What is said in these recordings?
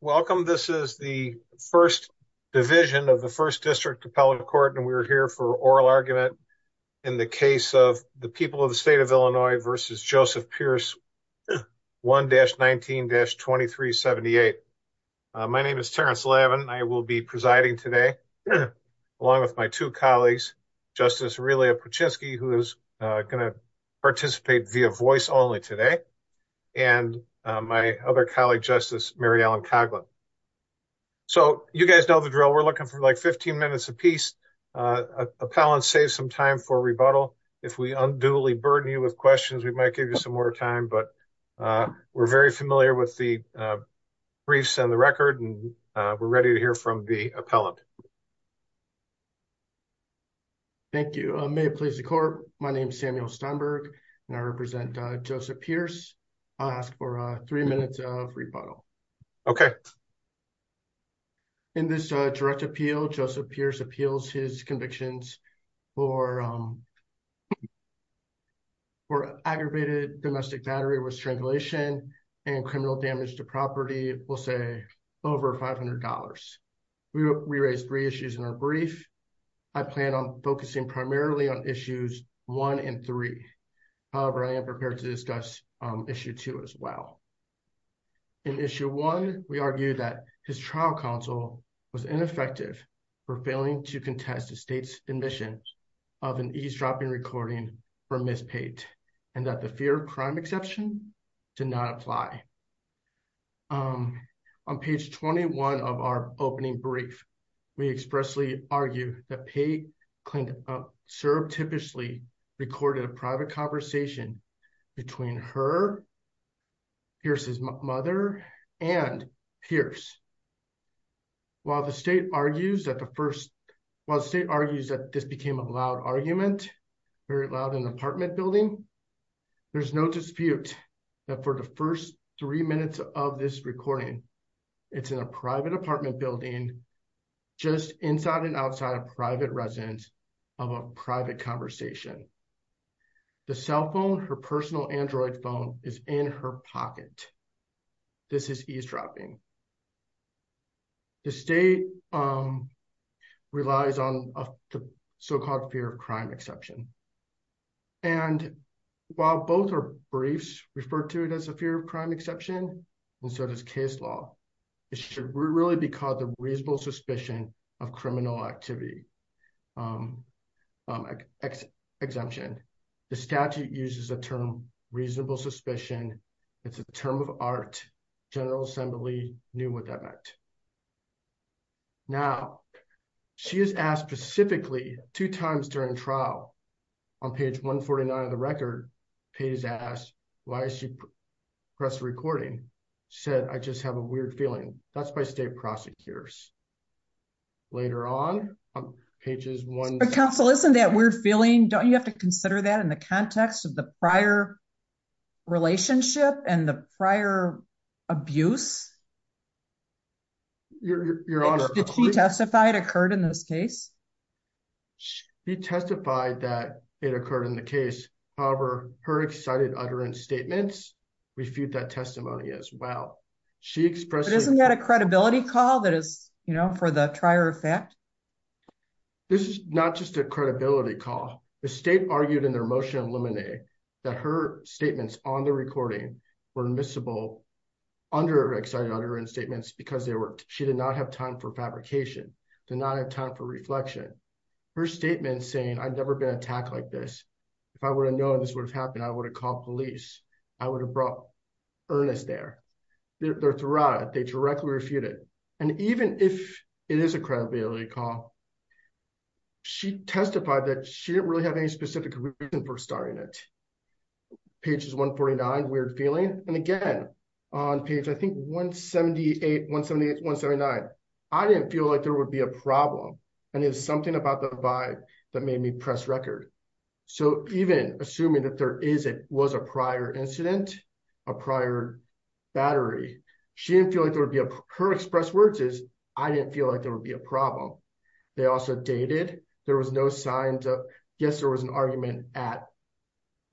Welcome. This is the first division of the first district appellate court. And we were here for oral argument in the case of the people of the state of Illinois versus Joseph Pierce 1-19-2378. My name is Terrence Lavin. I will be presiding today along with my two colleagues, Justice Aurelia Paczynski, who is going to participate via voice only today. And my other colleague, Justice Mary Ellen Coghlan. So you guys know the drill. We're looking for like 15 minutes a piece. Appellants save some time for rebuttal. If we unduly burden you with questions, we might give you some more time, but we're very familiar with the briefs and the record, and we're ready to hear from the appellant. Samuel Steinberg Thank you. May it please the court. My name is Samuel Steinberg and I represent Joseph Pierce. I'll ask for three minutes of rebuttal. Okay. In this direct appeal, Joseph Pierce appeals his convictions for aggravated domestic battery with strangulation and criminal damage to property, we'll say over $500. We raised three issues in our brief. I plan on focusing primarily on issues one and three. However, I am prepared to discuss issue two as well. In issue one, we argue that his trial counsel was ineffective for failing to contest the state's admission of an eavesdropping recording for Ms. Pate and that the fear of crime exception did not apply. On page 21 of our opening brief, we expressly argue that Pate served typically recorded a private conversation between her, Pierce's mother, and Pierce. While the state argues that the first, while the state argues that this became a loud argument, very loud in the apartment building, there's no dispute that for the first three minutes of this recording, it's in a private apartment building, just inside and outside of private residence of a private conversation. The cell phone, her personal Android phone is in her pocket. This is eavesdropping. The state relies on the so-called fear of crime exception. And while both are briefs referred to it as a fear of crime exception, and so does case law, it should really be called the reasonable suspicion of criminal activity exemption. The statute uses a term, reasonable suspicion. It's a term of art. General assembly knew what that meant. Now she has asked specifically two times during trial on page 149 of the record, Pate has asked, why is she press recording? She said, I just have a weird feeling. That's by state prosecutors. Later on, on pages one- But counsel, isn't that weird feeling? Don't you have to consider that in the context of the prior relationship and the prior abuse? Your honor, did she testify it occurred in this case? She testified that it occurred in the case. However, her excited utterance statements refute that testimony as well. She expressed- But isn't that a credibility call that is, you know, for the trier effect? This is not just a credibility call. The state argued in their motion of limine that her statements on the recording were admissible under excessive evidence. Her excited utterance statements, because she did not have time for fabrication, did not have time for reflection. Her statement saying, I've never been attacked like this. If I would have known this would have happened, I would have called police. I would have brought earnest there. They're throughout it. They directly refute it. And even if it is a credibility call, she testified that she didn't really have any specific reason for starting it. Pages 149, weird feeling. And again, on page, I think 178, 178, 179. I didn't feel like there would be a problem. And it was something about the vibe that made me press record. So even assuming that there is, it was a prior incident, a prior battery. She didn't feel like there would be a- Her expressed words is, I didn't feel like there would be a problem. They also dated. There was no signs of- Yes, there was an argument at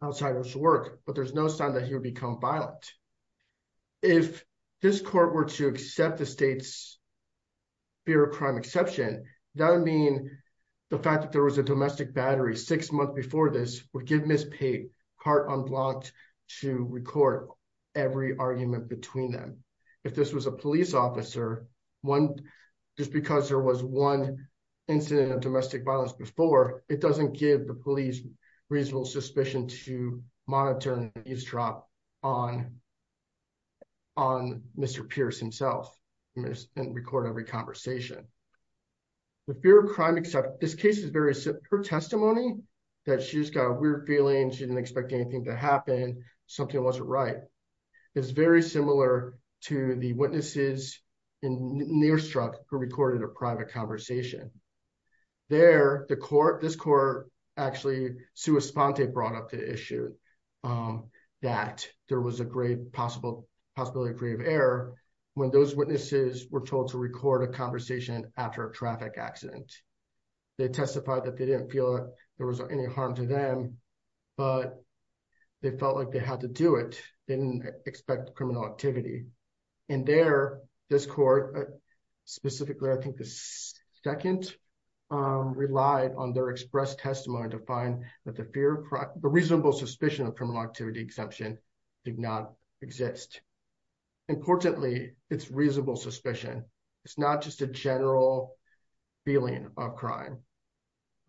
outsider's work, but there's no sign that he would become violent. If this court were to accept the state's fear of crime exception, that would mean the fact that there was a domestic battery six months before this would give Ms. Pate heart unblocked to record every argument between them. If this was a police officer, just because there was one incident of domestic violence before, it doesn't give the police reasonable suspicion to monitor and eavesdrop. On, on Mr. Pierce himself and record every conversation. The fear of crime, except this case is very similar testimony that she's got a weird feeling. She didn't expect anything to happen. Something wasn't right. It's very similar to the witnesses in near struck who recorded a private conversation. There, the court, this court actually, Sue Esponte brought up the issue of that. There was a great possible possibility of creative error when those witnesses were told to record a conversation after a traffic accident. They testified that they didn't feel there was any harm to them, but they felt like they had to do it. They didn't expect criminal activity. And there, this court specifically, I think the second relied on their express testimony to find that the fear, the reasonable suspicion of criminal activity exemption did not exist. Importantly, it's reasonable suspicion. It's not just a general feeling of crime.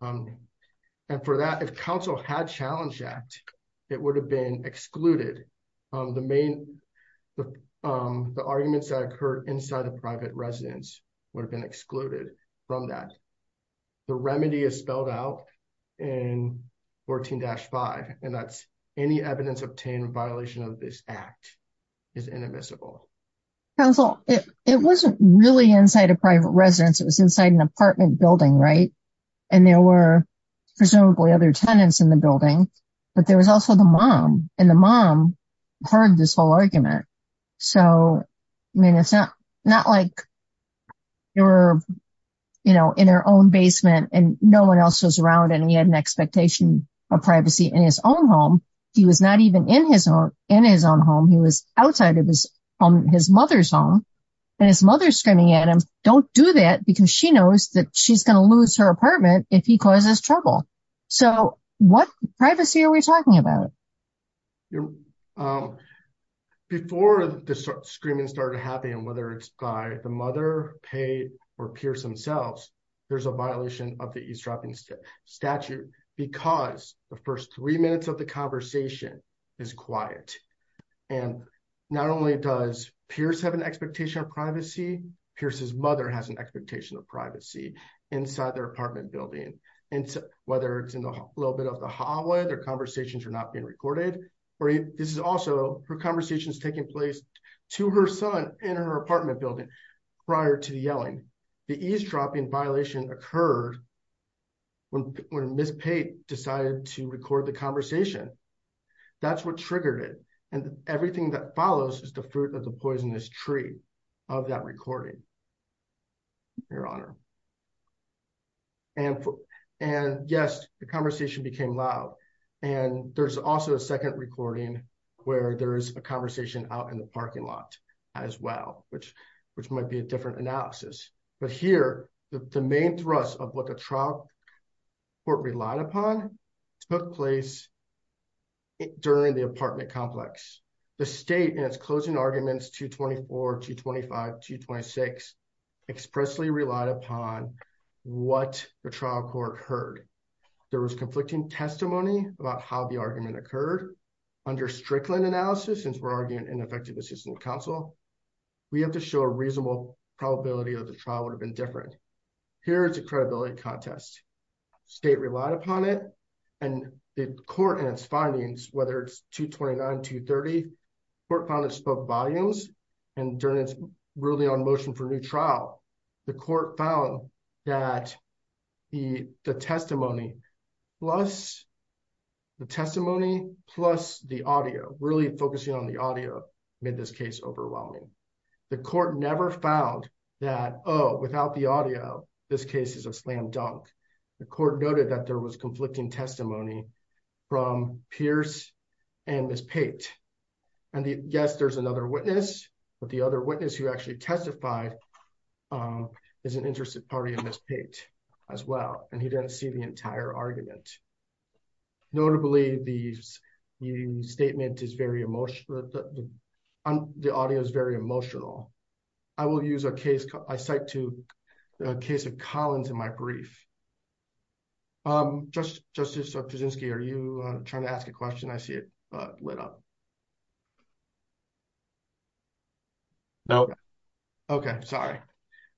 And for that, if council had challenged that it would have been excluded. The main, the arguments that occurred inside the private residence would have been excluded from that. The remedy is spelled out in 14-5, and that's any evidence obtained in violation of this act is inadmissible. Council, it wasn't really inside a private residence. It was inside an apartment building, right? And there were presumably other tenants in the building, but there was also the mom and the mom heard this whole argument. So, I mean, it's not like they were in their own basement and no one else was around and he had an expectation of privacy in his own home. He was not even in his own home. He was outside of his home, his mother's home, and his mother's screaming at him, don't do that because she knows that she's going to lose her apartment if he causes trouble. So what privacy are we talking about? Before the screaming started happening, whether it's by the mother, Pei, or Pierce themselves, there's a violation of the eavesdropping statute because the first three minutes of the conversation is quiet. And not only does Pierce have an expectation of privacy, Pierce's mother has an expectation of privacy inside their apartment building. Whether it's in a little bit of the hallway, their conversations are not being recorded, or this is also her conversations taking place to her son in her apartment building prior to the yelling. The eavesdropping violation occurred when Miss Pei decided to record the conversation. That's what triggered it. And everything that follows is the fruit of the poisonous tree of that recording, Your And yes, the conversation became loud. And there's also a second recording where there is a conversation out in the parking lot as well, which might be a different analysis. But here, the main thrust of what the trial court relied upon took place during the apartment complex. The state, in its closing arguments 224, 225, 226, expressly relied upon what the trial court heard. There was conflicting testimony about how the argument occurred. Under Strickland analysis, since we're arguing ineffective assistance counsel, we have to show a reasonable probability that the trial would have been different. Here is a credibility contest. State relied upon it, and the court and its findings, whether it's 229, 230, the court found it spoke volumes. And during its ruling on motion for new trial, the court found that the testimony plus the testimony plus the audio, really focusing on the audio, made this case overwhelming. The court never found that, oh, without the audio, this case is a slam dunk. The court noted that there was conflicting testimony from Pierce and Ms. Pate. And yes, there's another witness. But the other witness who actually testified is an interested party in Ms. Pate as well. And he didn't see the entire argument. Notably, the statement is very emotional. The audio is very emotional. I will use a case, I cite to a case of Collins in my brief. Justice Kuczynski, are you trying to ask a question? I see it lit up. No. Okay, sorry.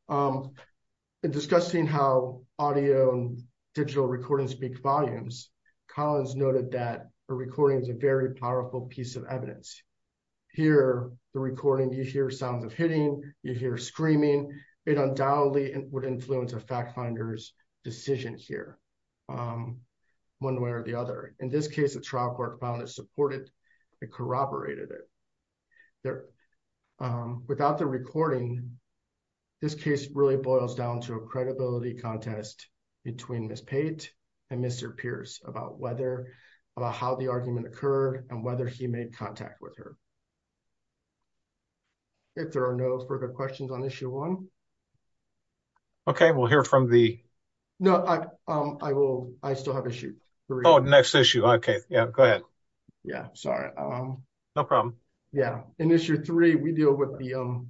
In discussing how audio and digital recordings speak volumes, Collins noted that a recording is a very powerful piece of evidence. Here, the recording, you hear sounds of hitting, you hear screaming. It undoubtedly would influence a fact finder's decision here, one way or the other. In this case, the trial court found it supported and corroborated it. There, without the recording, this case really boils down to a credibility contest between Ms. Pate and Mr. Pierce about whether, about how the argument occurred and whether he made contact with her. If there are no further questions on issue one. Okay, we'll hear from the. No, I will, I still have issues. Oh, next issue. Okay, yeah, go ahead. Yeah, sorry. No problem. Yeah, in issue three, we deal with the,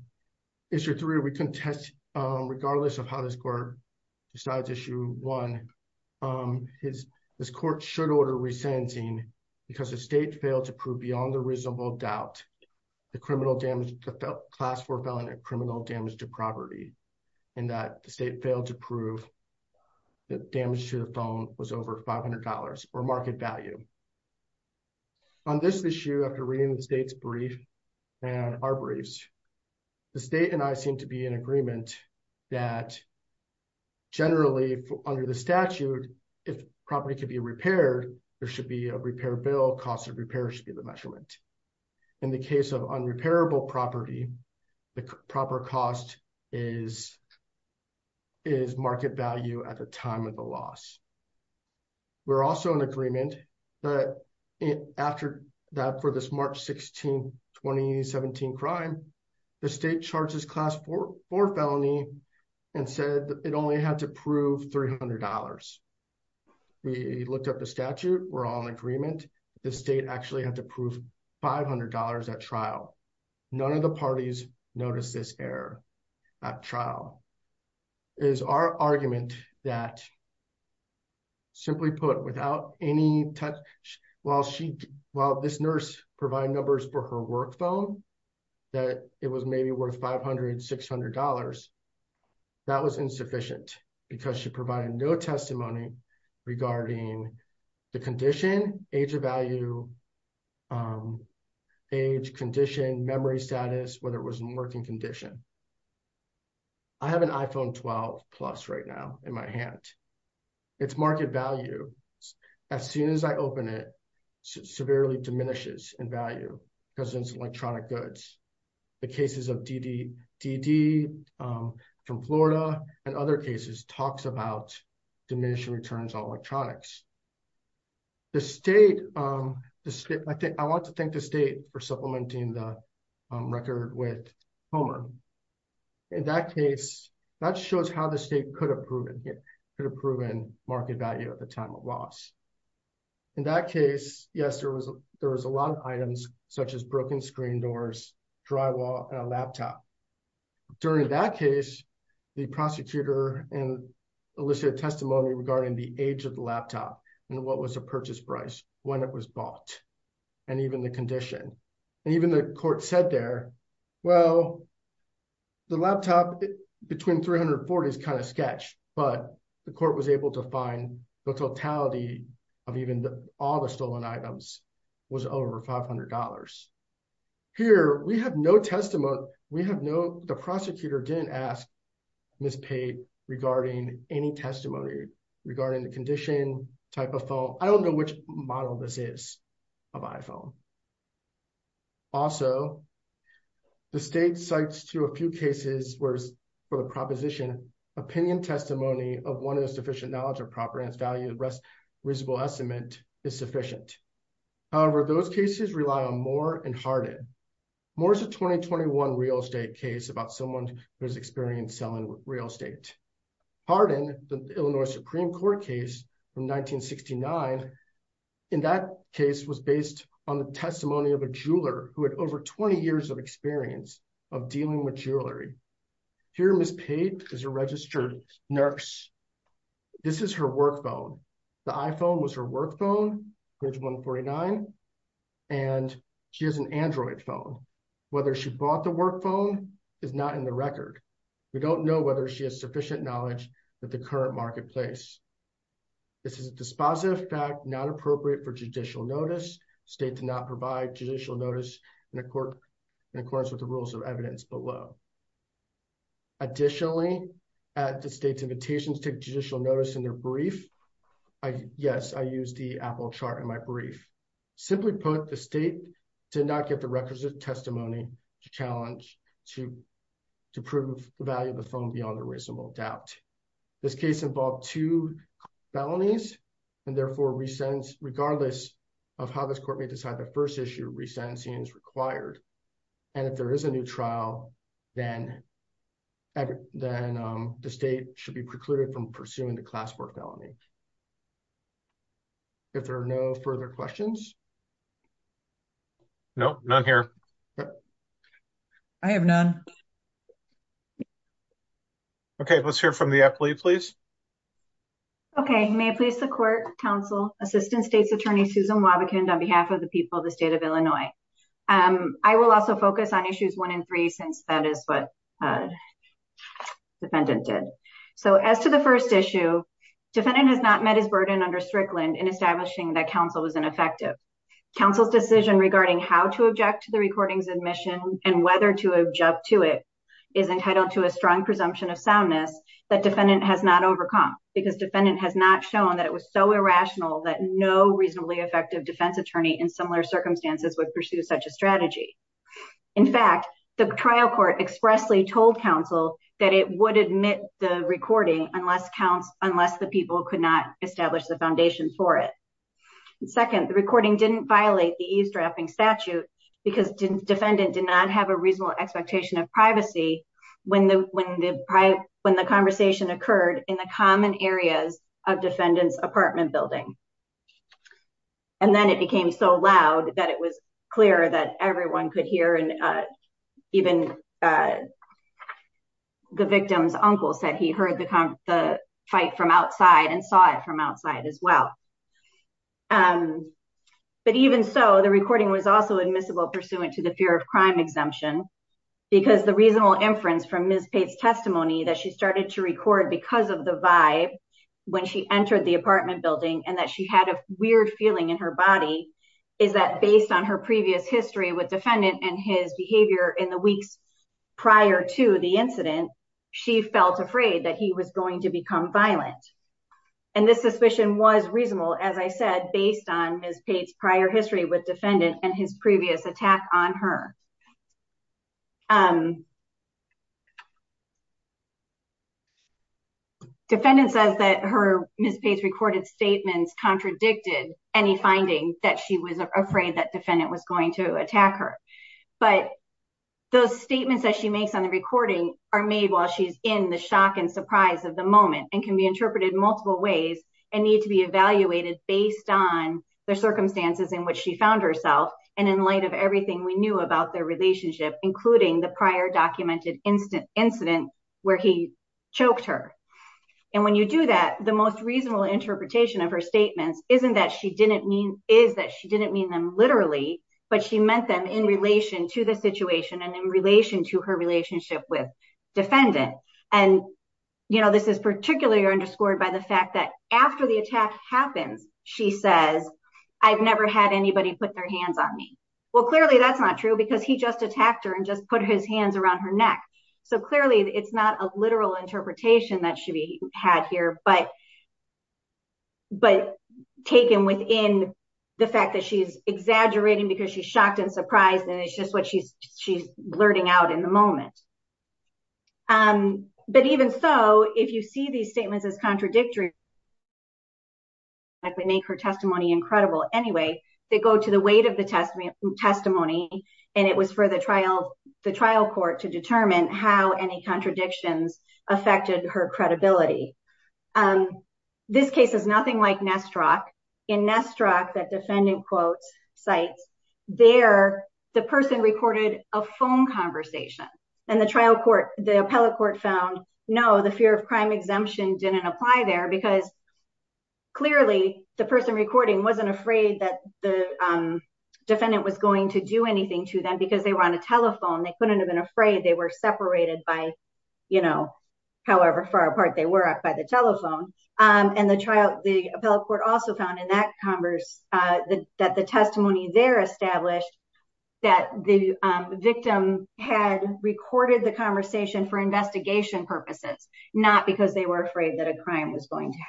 issue three, we contest, regardless of how this court decides issue one. This court should order resentencing because the state failed to prove beyond a reasonable doubt the criminal damage, the class four felon had criminal damage to property and that the state failed to prove the damage to the phone was over $500 or market value. On this issue, after reading the state's brief and our briefs, the state and I seem to be in agreement that generally under the statute, if property could be repaired, there should be a repair bill, cost of repair should be the measurement. In the case of unrepairable property, the proper cost is, is market value at the time of the loss. We're also in agreement that after that for this March 16, 2017 crime, the state charges class four felony and said it only had to prove $300. We looked up the statute. We're all in agreement. The state actually had to prove $500 at trial. None of the parties noticed this error at trial. It is our argument that simply put without any touch, while she, while this nurse provide numbers for her work phone, that it was maybe worth $500, $600, that was insufficient because she provided no testimony regarding the condition, age of value, age, condition, memory status, whether it was a working condition. I have an iPhone 12 plus right now in my hand. It's market value. As soon as I open it, severely diminishes in value because it's electronic goods. The cases of DDD from Florida and other cases talks about diminishing returns on electronics. The state, I think I want to thank the state for supplementing the record with Homer. In that case, that shows how the state could have proven could have proven market value at the time of loss. In that case, yes, there was, there was a lot of items such as broken screen doors, drywall and a laptop. During that case, the prosecutor and elicited testimony regarding the age of the laptop and what was the purchase price when it was bought and even the condition. And even the court said there, well, the laptop between 340 is kind of sketch, but the court was able to find the totality of even all the stolen items was over $500. Here, we have no testimony. We have no, the prosecutor didn't ask Ms. Pate regarding any testimony regarding the condition type of phone. I don't know which model this is of iPhone. Also, the state cites to a few cases, whereas for the proposition opinion testimony of one of those sufficient knowledge of property and its value, the rest reasonable estimate is sufficient. However, those cases rely on Moore and Hardin. Moore's a 2021 real estate case about someone who has experience selling real estate. Hardin, the Illinois Supreme Court case from 1969, in that case was based on the testimony of a jeweler who had over 20 years of experience of dealing with jewelry. Here, Ms. Pate is a registered nurse. This is her work phone. The iPhone was her work phone, which 149, and she has an Android phone. Whether she bought the work phone is not in the record. We don't know whether she has sufficient knowledge of the current marketplace. This is a dispositive fact, not appropriate for judicial notice. State did not provide judicial notice in accordance with the rules of evidence below. Additionally, at the state's invitation to take judicial notice in their brief, yes, I used the Apple chart in my brief. Simply put, the state did not get the requisite testimony to challenge, to prove the value of the phone beyond a reasonable doubt. This case involved two felonies, and therefore, regardless of how this court may decide the first issue, resentencing is required. And if there is a new trial, then the state should be precluded from pursuing the class board felony. If there are no further questions. Nope, none here. I have none. Okay, let's hear from the Epley, please. Okay, may it please the court, counsel, assistant state's attorney, Susan Wobbekind, on behalf of the people of the state of Illinois. I will also focus on issues one and three, since that is what defendant did. So, as to the first issue, defendant has not met his burden under Strickland in establishing that counsel was ineffective. Counsel's decision regarding how to object to the recording's admission and whether to jump to it is entitled to a strong presumption of soundness that defendant has not overcome, because defendant has not shown that it was so irrational that no reasonably effective defense attorney in similar circumstances would pursue such a strategy. In fact, the trial court expressly told counsel that it would admit the recording unless counts, unless the people could not establish the foundation for it. Second, the recording didn't violate the eavesdropping statute because defendant did not have a reasonable expectation of privacy when the conversation occurred in the common areas of defendant's apartment building. And then it became so loud that it was clear that everyone could hear and even the victim's uncle said he heard the fight from outside and saw it from outside as well. But even so, the recording was also admissible pursuant to the fear of crime exemption, because the reasonable inference from Ms. Pate's testimony that she started to record because of the vibe when she entered the apartment building and that she had a weird feeling in her body is that based on her previous history with defendant and his behavior in the weeks prior to the incident, she felt afraid that he was going to become violent. And this suspicion was reasonable, as I said, based on Ms. Pate's prior history with defendant and his previous attack on her. Defendant says that Ms. Pate's recorded statements contradicted any finding that she was afraid that defendant was going to attack her. But those statements that she makes on the recording are made while she's in the shock of the moment and can be interpreted multiple ways and need to be evaluated based on the circumstances in which she found herself and in light of everything we knew about their relationship, including the prior documented incident where he choked her. And when you do that, the most reasonable interpretation of her statements isn't that she didn't mean is that she didn't mean them literally, but she meant them in relation to the situation and in relation to her relationship with defendant. And, you know, this is particularly underscored by the fact that after the attack happens, she says, I've never had anybody put their hands on me. Well, clearly, that's not true because he just attacked her and just put his hands around her neck. So clearly, it's not a literal interpretation that should be had here, but. But taken within the fact that she's exaggerating because she's shocked and surprised, and it's just what she's she's blurting out in the moment. But even so, if you see these statements as contradictory. Like we make her testimony incredible anyway, they go to the weight of the testimony and it was for the trial, the trial court to determine how any contradictions affected her credibility. This case is nothing like Nesterov in Nesterov that defendant quotes sites there, the person recorded a phone conversation and the trial court, the appellate court found. No, the fear of crime exemption didn't apply there because. Clearly, the person recording wasn't afraid that the defendant was going to do anything to them because they were on a telephone. They couldn't have been afraid they were separated by, you know, however far apart they were by the telephone and the trial. The appellate court also found in that converse that the testimony there established that the victim had recorded the conversation for investigation purposes, not because they were afraid that a crime was going to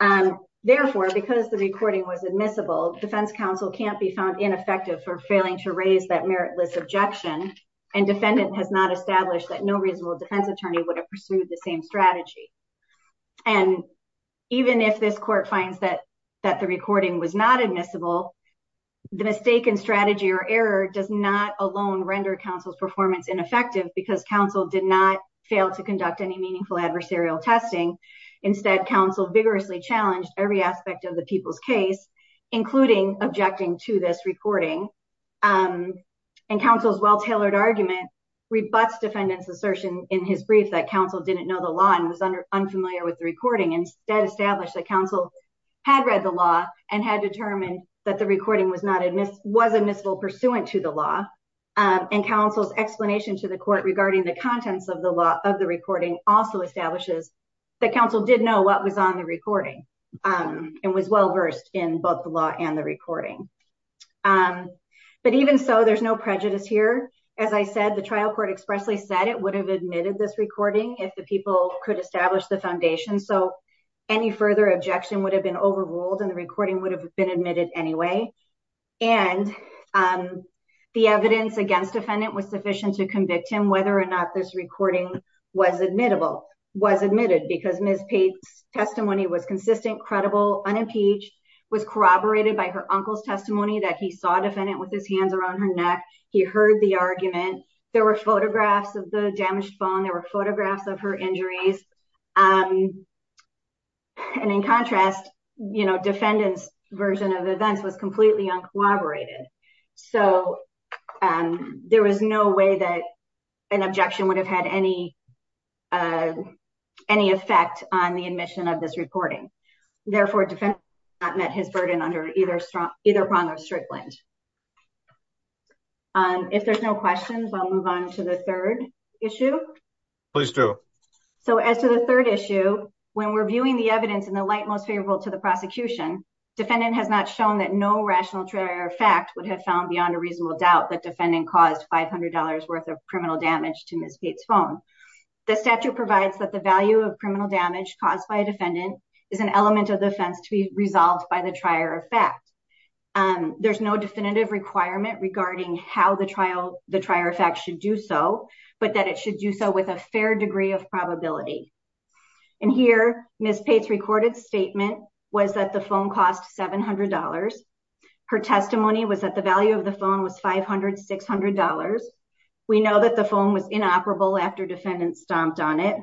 happen. Therefore, because the recording was admissible, defense counsel can't be found ineffective for failing to raise that meritless objection and defendant has not established that no reasonable defense attorney would have pursued the same strategy. And even if this court finds that that the recording was not admissible. The mistake and strategy or error does not alone render counsel's performance ineffective because counsel did not fail to conduct any meaningful adversarial testing. Instead, counsel vigorously challenged every aspect of the people's case, including objecting to this recording. And counsel's well-tailored argument rebuts defendant's assertion in his brief that counsel didn't know the law and was unfamiliar with the recording. Instead, established that counsel had read the law and had determined that the recording was admissible pursuant to the law and counsel's explanation to the court regarding the contents of the law of the recording also establishes that counsel did know what was on the recording and was well-versed in both the law and the recording. But even so, there's no prejudice here. As I said, the trial court expressly said it would have admitted this recording if the people could establish the foundation. So any further objection would have been overruled and the recording would have been admitted anyway. And the evidence against defendant was sufficient to convict him whether or not this recording was admissible, was admitted because Ms. Pate's testimony was consistent, credible, unimpeached, was corroborated by her uncle's testimony that he saw defendant with his hands around her neck. He heard the argument. There were photographs of the damaged bone. There were photographs of her injuries. And in contrast, defendant's version of events was completely uncorroborated. So there was no way that an objection would have had any effect on the admission of this reporting. Therefore, defendant met his burden under either prong or stripland. If there's no questions, I'll move on to the third issue. Please do. So as to the third issue, when we're viewing the evidence in the light most favorable to the prosecution, defendant has not shown that no rational trier of fact would have found beyond a reasonable doubt that defendant caused $500 worth of criminal damage to Ms. Pate's phone. The statute provides that the value of criminal damage caused by a defendant is an element of defense to be resolved by the trier of fact. There's no definitive requirement regarding how the trial, the trier of fact should do so, but that it should do so with a fair degree of probability. And here, Ms. Pate's recorded statement was that the phone cost $700. Her testimony was that the value of the phone was $500, $600. We know that the phone was inoperable after defendants stomped on it.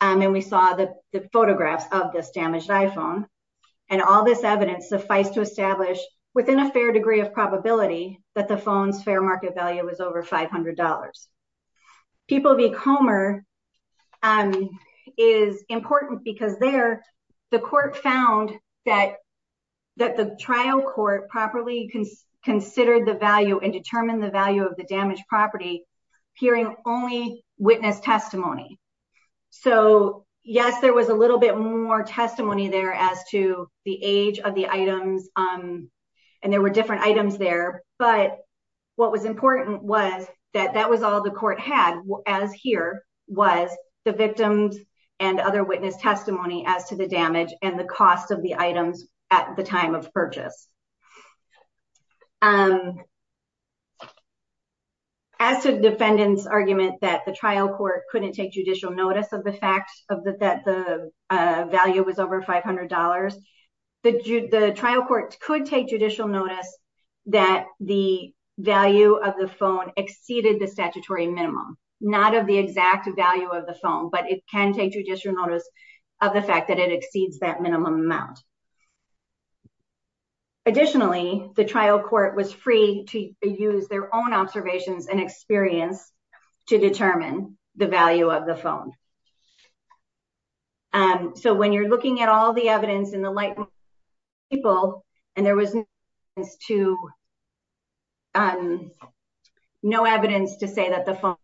And we saw the photographs of this damaged iPhone. And all this evidence suffice to establish within a fair degree of probability that the phone's fair market value was over $500. People v. Comer is important because there, the court found that the trial court properly considered the value and determined the value of the damaged property, hearing only witness testimony. So, yes, there was a little bit more testimony there as to the age of the items, and there were different items there. But what was important was that that was all the court had as here was the victims and other witness testimony as to the damage and the cost of the items at the time of purchase. As to defendant's argument that the trial court couldn't take judicial notice of the fact that the value was over $500, the trial court could take judicial notice that the value of the phone exceeded the statutory minimum, not of the exact value of the phone, but it can take judicial notice of the fact that it exceeds that minimum amount. Additionally, the trial court was free to use their own observations and experience to determine the value of the phone. So when you're looking at all the evidence in the light people, and there was no evidence to no evidence to say that the phone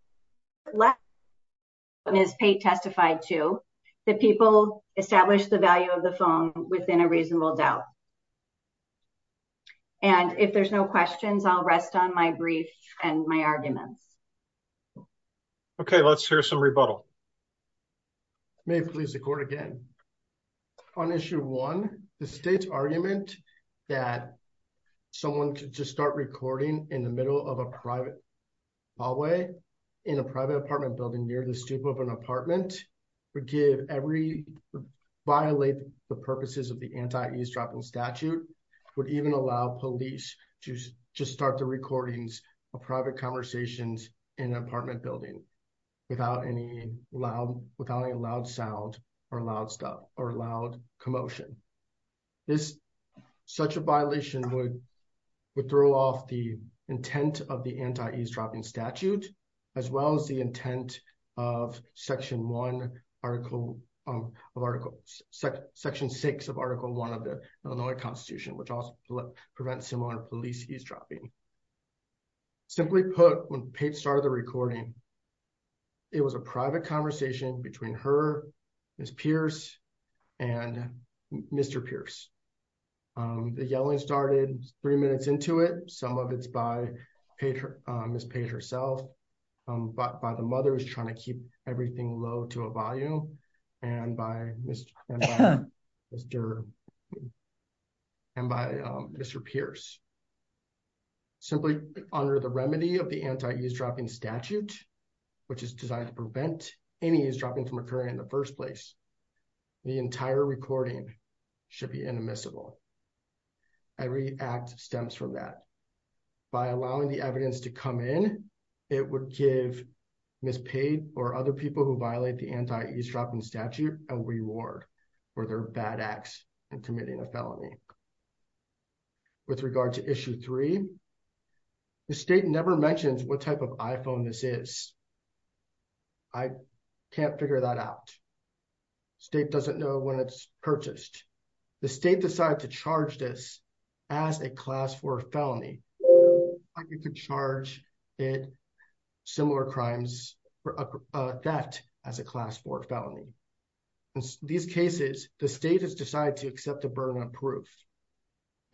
is paid testified to the people establish the value of the phone within a reasonable doubt. And if there's no questions, I'll rest on my brief and my arguments. Okay, let's hear some rebuttal. May please the court again on issue one, the state's argument that someone could just start recording in the middle of a private hallway in a private apartment building near the stoop of an apartment would give every violate the purposes of the anti eavesdropping statute would even allow police to just start the recordings of private conversations in an loud without a loud sound or loud stuff or loud commotion. This such a violation would would throw off the intent of the anti eavesdropping statute, as well as the intent of section one article of articles section six of article one of the Illinois Constitution which also prevent similar police eavesdropping. Simply put, when Pete started the recording. It was a private conversation between her is Pierce, and Mr Pierce. The yelling started three minutes into it, some of it's by paper is paid herself, but by the mother is trying to keep everything low to a volume, and by Mr. Mr. And by Mr Pierce, simply under the remedy of the anti eavesdropping statute, which is designed to prevent any is dropping from occurring in the first place. The entire recording should be inadmissible. Every act stems from that by allowing the evidence to come in. It would give miss paid or other people who violate the anti eavesdropping statute, a reward for their bad acts and committing a felony. With regard to issue three. The state never mentioned what type of iPhone this is. I can't figure that out. State doesn't know when it's purchased. The state decided to charge this as a class for felony. You could charge it. Similar crimes for that as a class for felony. These cases, the state has decided to accept the burden of proof,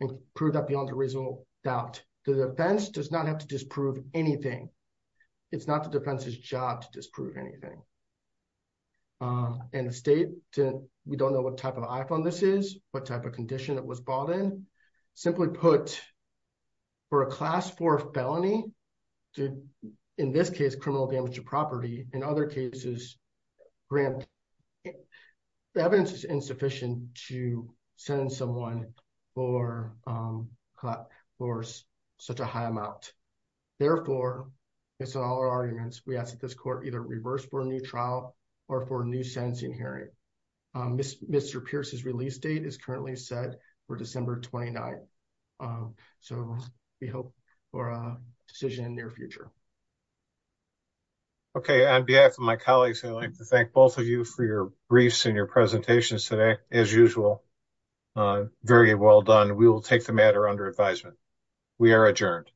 and prove that beyond a reasonable doubt, the defense does not have to disprove anything. It's not the defense's job to disprove anything. And the state to, we don't know what type of iPhone this is, what type of condition that was bought in. Simply put, for a class for felony. In this case, criminal damage to property and other cases. The evidence is insufficient to send someone for such a high amount. Therefore, it's all arguments, we ask that this court either reverse for a new trial, or for new sentencing hearing. Mr. Pierce's release date is currently set for December 29. So, we hope for a decision in the near future. Okay, on behalf of my colleagues, I'd like to thank both of you for your briefs and your presentations today, as usual. Very well done. We will take the matter under advisement. We are adjourned.